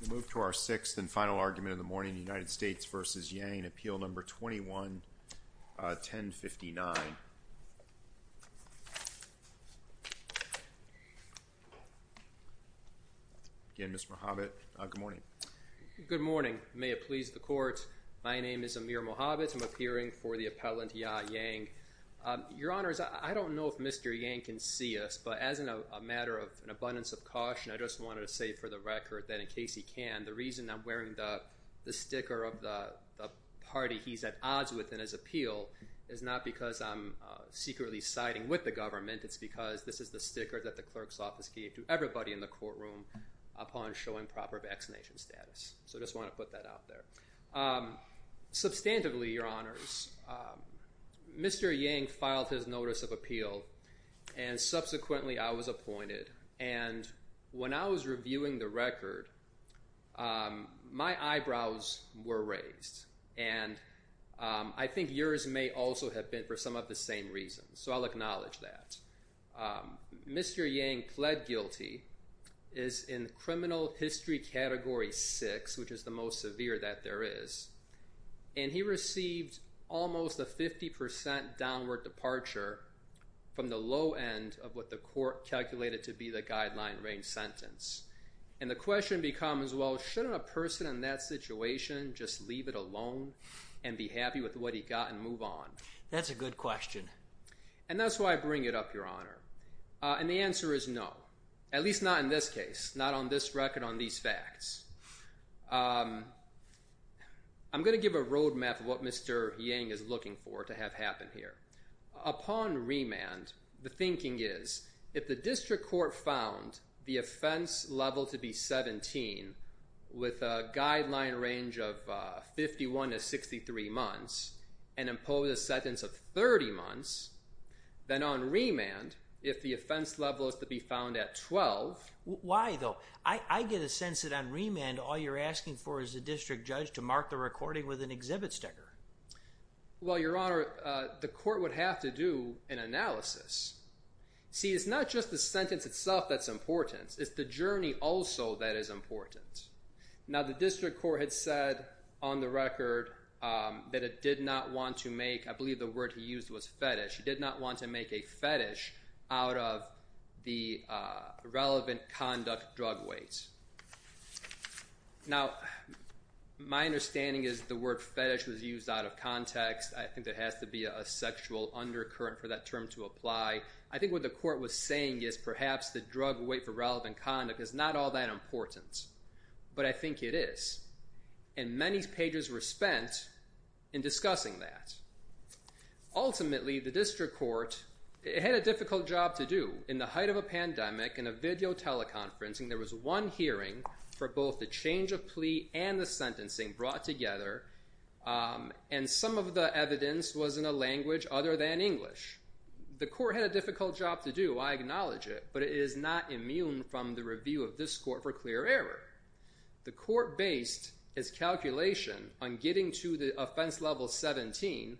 We move to our sixth and final argument of the morning, United States v. Yang, Appeal No. 21-1059. Again, Mr. Mohabit, good morning. Good morning. May it please the Court, my name is Amir Mohabit. I'm appearing for the appellant, Ya Yang. Your Honors, I don't know if Mr. Yang can see us, but as a matter of an abundance of caution, I just wanted to say for the record that in case he can, the reason I'm wearing the sticker of the party he's at odds with in his appeal is not because I'm secretly siding with the government, it's because this is the sticker that the clerk's office gave to everybody in the courtroom upon showing proper vaccination status. So I just want to put that out there. Substantively, Your Honors, Mr. Yang filed his notice of appeal, and subsequently I was appointed. And when I was reviewing the record, my eyebrows were raised, and I think yours may also have been for some of the same reasons, so I'll acknowledge that. Mr. Yang pled guilty, is in criminal history category six, which is the most severe that there is, and he received almost a 50% downward departure from the low end of what the court calculated to be the guideline range sentence. And the question becomes, well, shouldn't a person in that situation just leave it alone and be happy with what he got and move on? That's a good question. And that's why I bring it up, Your Honor. And the answer is no, at least not in this where Yang is looking for it to have happened here. Upon remand, the thinking is, if the district court found the offense level to be 17 with a guideline range of 51 to 63 months, and impose a sentence of 30 months, then on remand, if the offense level is to be found at 12... Why, though? I get a sense that on remand, all you're asking for is the district judge to mark the recording with an exhibit sticker. Well, Your Honor, the court would have to do an analysis. See, it's not just the sentence itself that's important. It's the journey also that is important. Now, the district court had said on the record that it did not want to make... I believe the word he used was fetish. He did not want to make a fetish out of the relevant conduct drug weight. Now, my understanding is the word fetish was used out of context. I think there has to be a sexual undercurrent for that term to apply. I think what the court was saying is perhaps the drug weight for relevant conduct is not all that important. But I think it is. And many pages were spent in discussing that. Ultimately, the district court, it had a difficult job to do. In the height of a pandemic, in both the change of plea and the sentencing brought together, and some of the evidence was in a language other than English. The court had a difficult job to do. I acknowledge it. But it is not immune from the review of this court for clear error. The court based its calculation on getting to the offense level 17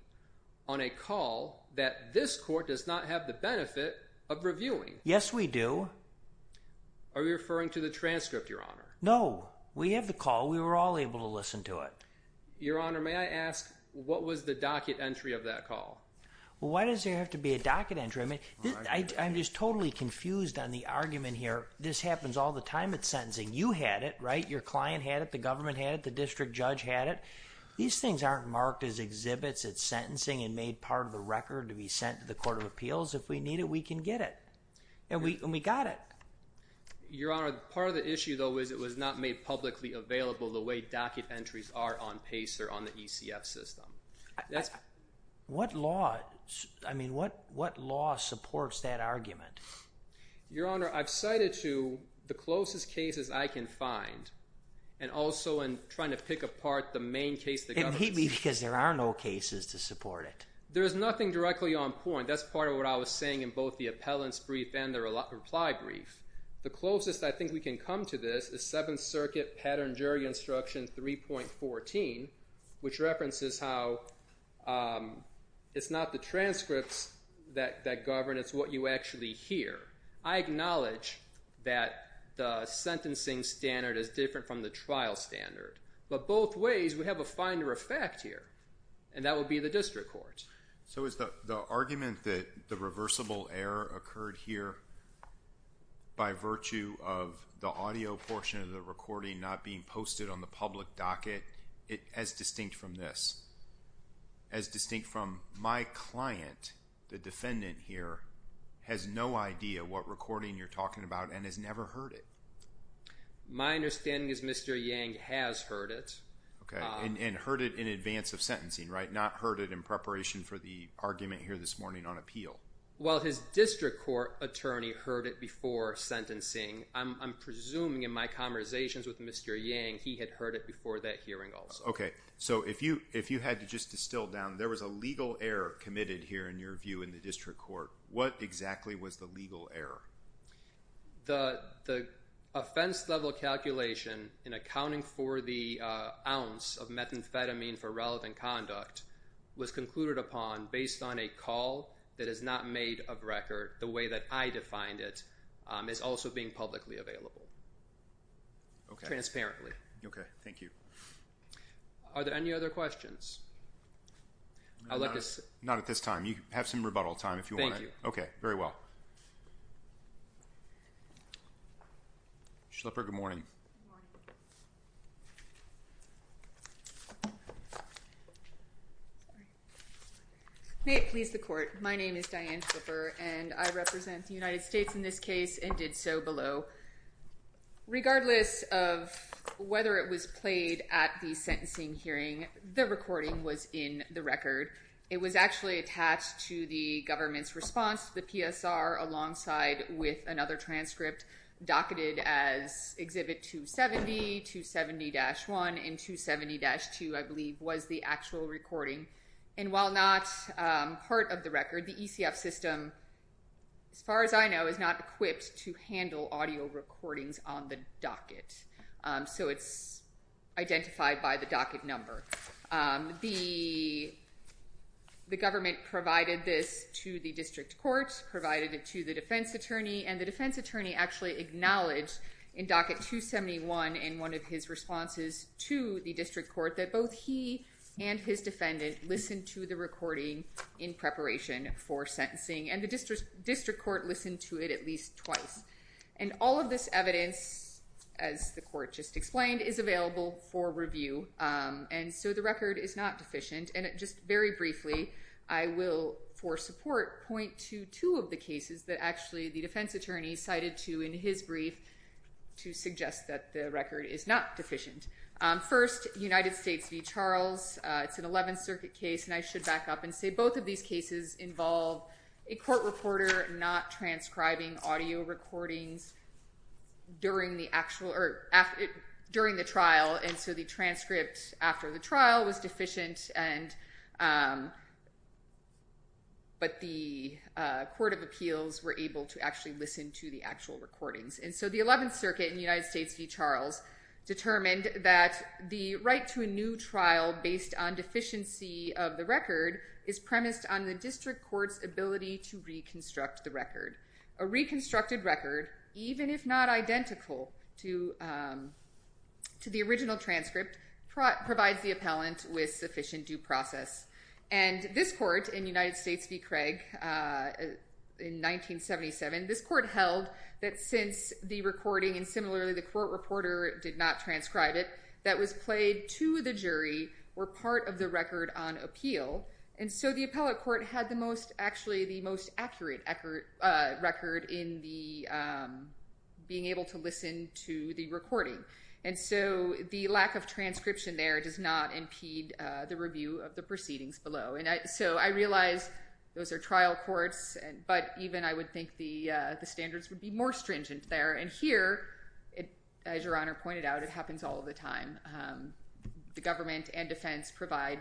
on a call that this court does not have the benefit of reviewing. Yes, we do. Are you referring to the transcript, Your Honor? No. We have the call. We were all able to listen to it. Your Honor, may I ask what was the docket entry of that call? Why does there have to be a docket entry? I'm just totally confused on the argument here. This happens all the time at sentencing. You had it, right? Your client had it. The government had it. The district judge had it. These things aren't marked as exhibits at sentencing and made part of the record to be sent to the Court of Appeals. If we need it, we can get it. And we got it. Your Honor, part of the issue, though, is it was not made publicly available the way docket entries are on PACER, on the ECF system. What law supports that argument? Your Honor, I've cited to the closest cases I can find, and also in trying to pick apart the main case of the government. It may be because there are no cases to support it. There is nothing directly on point. That's part of what I was saying in both the appellant's brief and the reply brief. The closest I think we can come to this is Seventh Circuit Pattern Jury Instruction 3.14, which references how it's not the transcripts that govern. It's what you actually hear. I acknowledge that the sentencing standard is different from the trial standard. But both ways, we have a finder of fact here, and that would be the So is the argument that the reversible error occurred here by virtue of the audio portion of the recording not being posted on the public docket as distinct from this, as distinct from my client, the defendant here, has no idea what recording you're talking about and has never heard it? My understanding is Mr. Yang has heard it. And heard it in advance of sentencing, right? Not heard it in preparation for the argument here this morning on appeal. Well, his district court attorney heard it before sentencing. I'm presuming in my conversations with Mr. Yang, he had heard it before that hearing also. So if you had to just distill down, there was a legal error committed here in your view in the district court. What exactly was the legal error? The offense level calculation in accounting for the ounce of methamphetamine for relevant conduct was concluded upon based on a call that is not made of record the way that I defined it is also being publicly available. Transparently. Okay. Thank you. Are there any other questions? Not at this time. You have some rebuttal time if you want. Okay. Very well. Schlipper, good morning. May it please the court. My name is Diane Schlipper and I represent the United States in this case and did so below. Regardless of whether it was played at the sentencing hearing, the recording was in the response to the PSR alongside with another transcript docketed as exhibit 270, 270-1 and 270-2 I believe was the actual recording. And while not part of the record, the ECF system, as far as I know, is not equipped to handle audio recordings on the docket. So it's identified by the docket number. The government provided this to the district court, provided it to the defense attorney and the defense attorney actually acknowledged in docket 271 in one of his responses to the district court that both he and his defendant listened to the recording in preparation for sentencing and the district court listened to it at least twice. And all of this evidence, as the court just explained, is available for review. And so the record is not deficient. And just very briefly, I will, for support, point to two of the cases that actually the defense attorney cited to in his brief to suggest that the record is not deficient. First, United States v. Charles. It's an 11th Circuit case and I should back up and say both of these cases involve a court reporter not transcribing audio recordings during the trial. And so the transcript after the trial was deficient but the court of appeals were able to actually listen to the actual recordings. And so the 11th Circuit in United States v. Charles determined that the right to a new trial based on deficiency of the record is premised on the district court's ability to reconstruct the record. A reconstructed record, even if not identical to the original transcript, provides the appellant with sufficient due process. And this court in United States v. Craig in 1977, this court held that since the recording and similarly the court reporter did not transcribe it, that was played to the jury were part of the record on appeal. And so the appellate court had actually the most accurate record in being able to listen to the recording. And so the lack of transcription there does not impede the review of the proceedings below. And so I realize those are trial courts, but even I would think the standards would be more stringent there. And here, as Your Honor pointed out, it happens all the time. The government and defense provide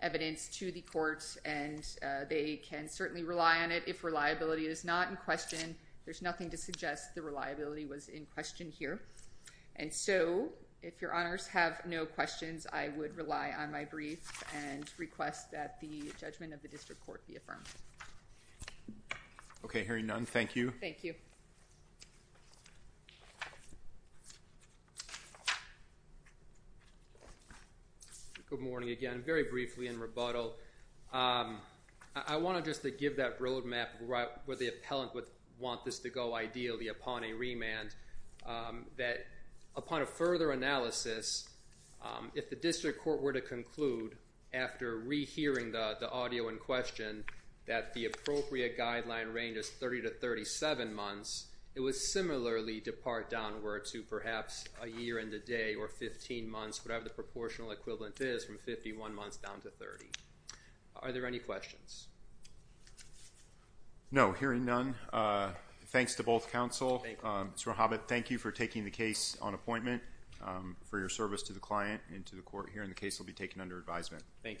evidence to the courts and they can certainly rely on it if reliability is not in question. There's nothing to suggest the reliability was in question here. And so if Your Honors have no questions, I would rely on my brief and request that the judgment of the district court be affirmed. Okay, hearing none, thank you. Good morning again, very briefly in rebuttal. I want to just give that road map where the appellant would want this to go ideally upon a remand, that upon a further analysis, if the district court were to conclude after rehearing the audio in question, that the appropriate guideline range is 30 to 37 months, it would similarly depart downward to perhaps a year and a day or 15 months, whatever the proportional equivalent is from 51 months down to 30. Are there any questions? No, hearing none, thanks to both counsel. Mr. Hobbit, thank you for taking the case on appointment, for your service to the client and to the court. Hearing the case will be taken under advisement. Thank you.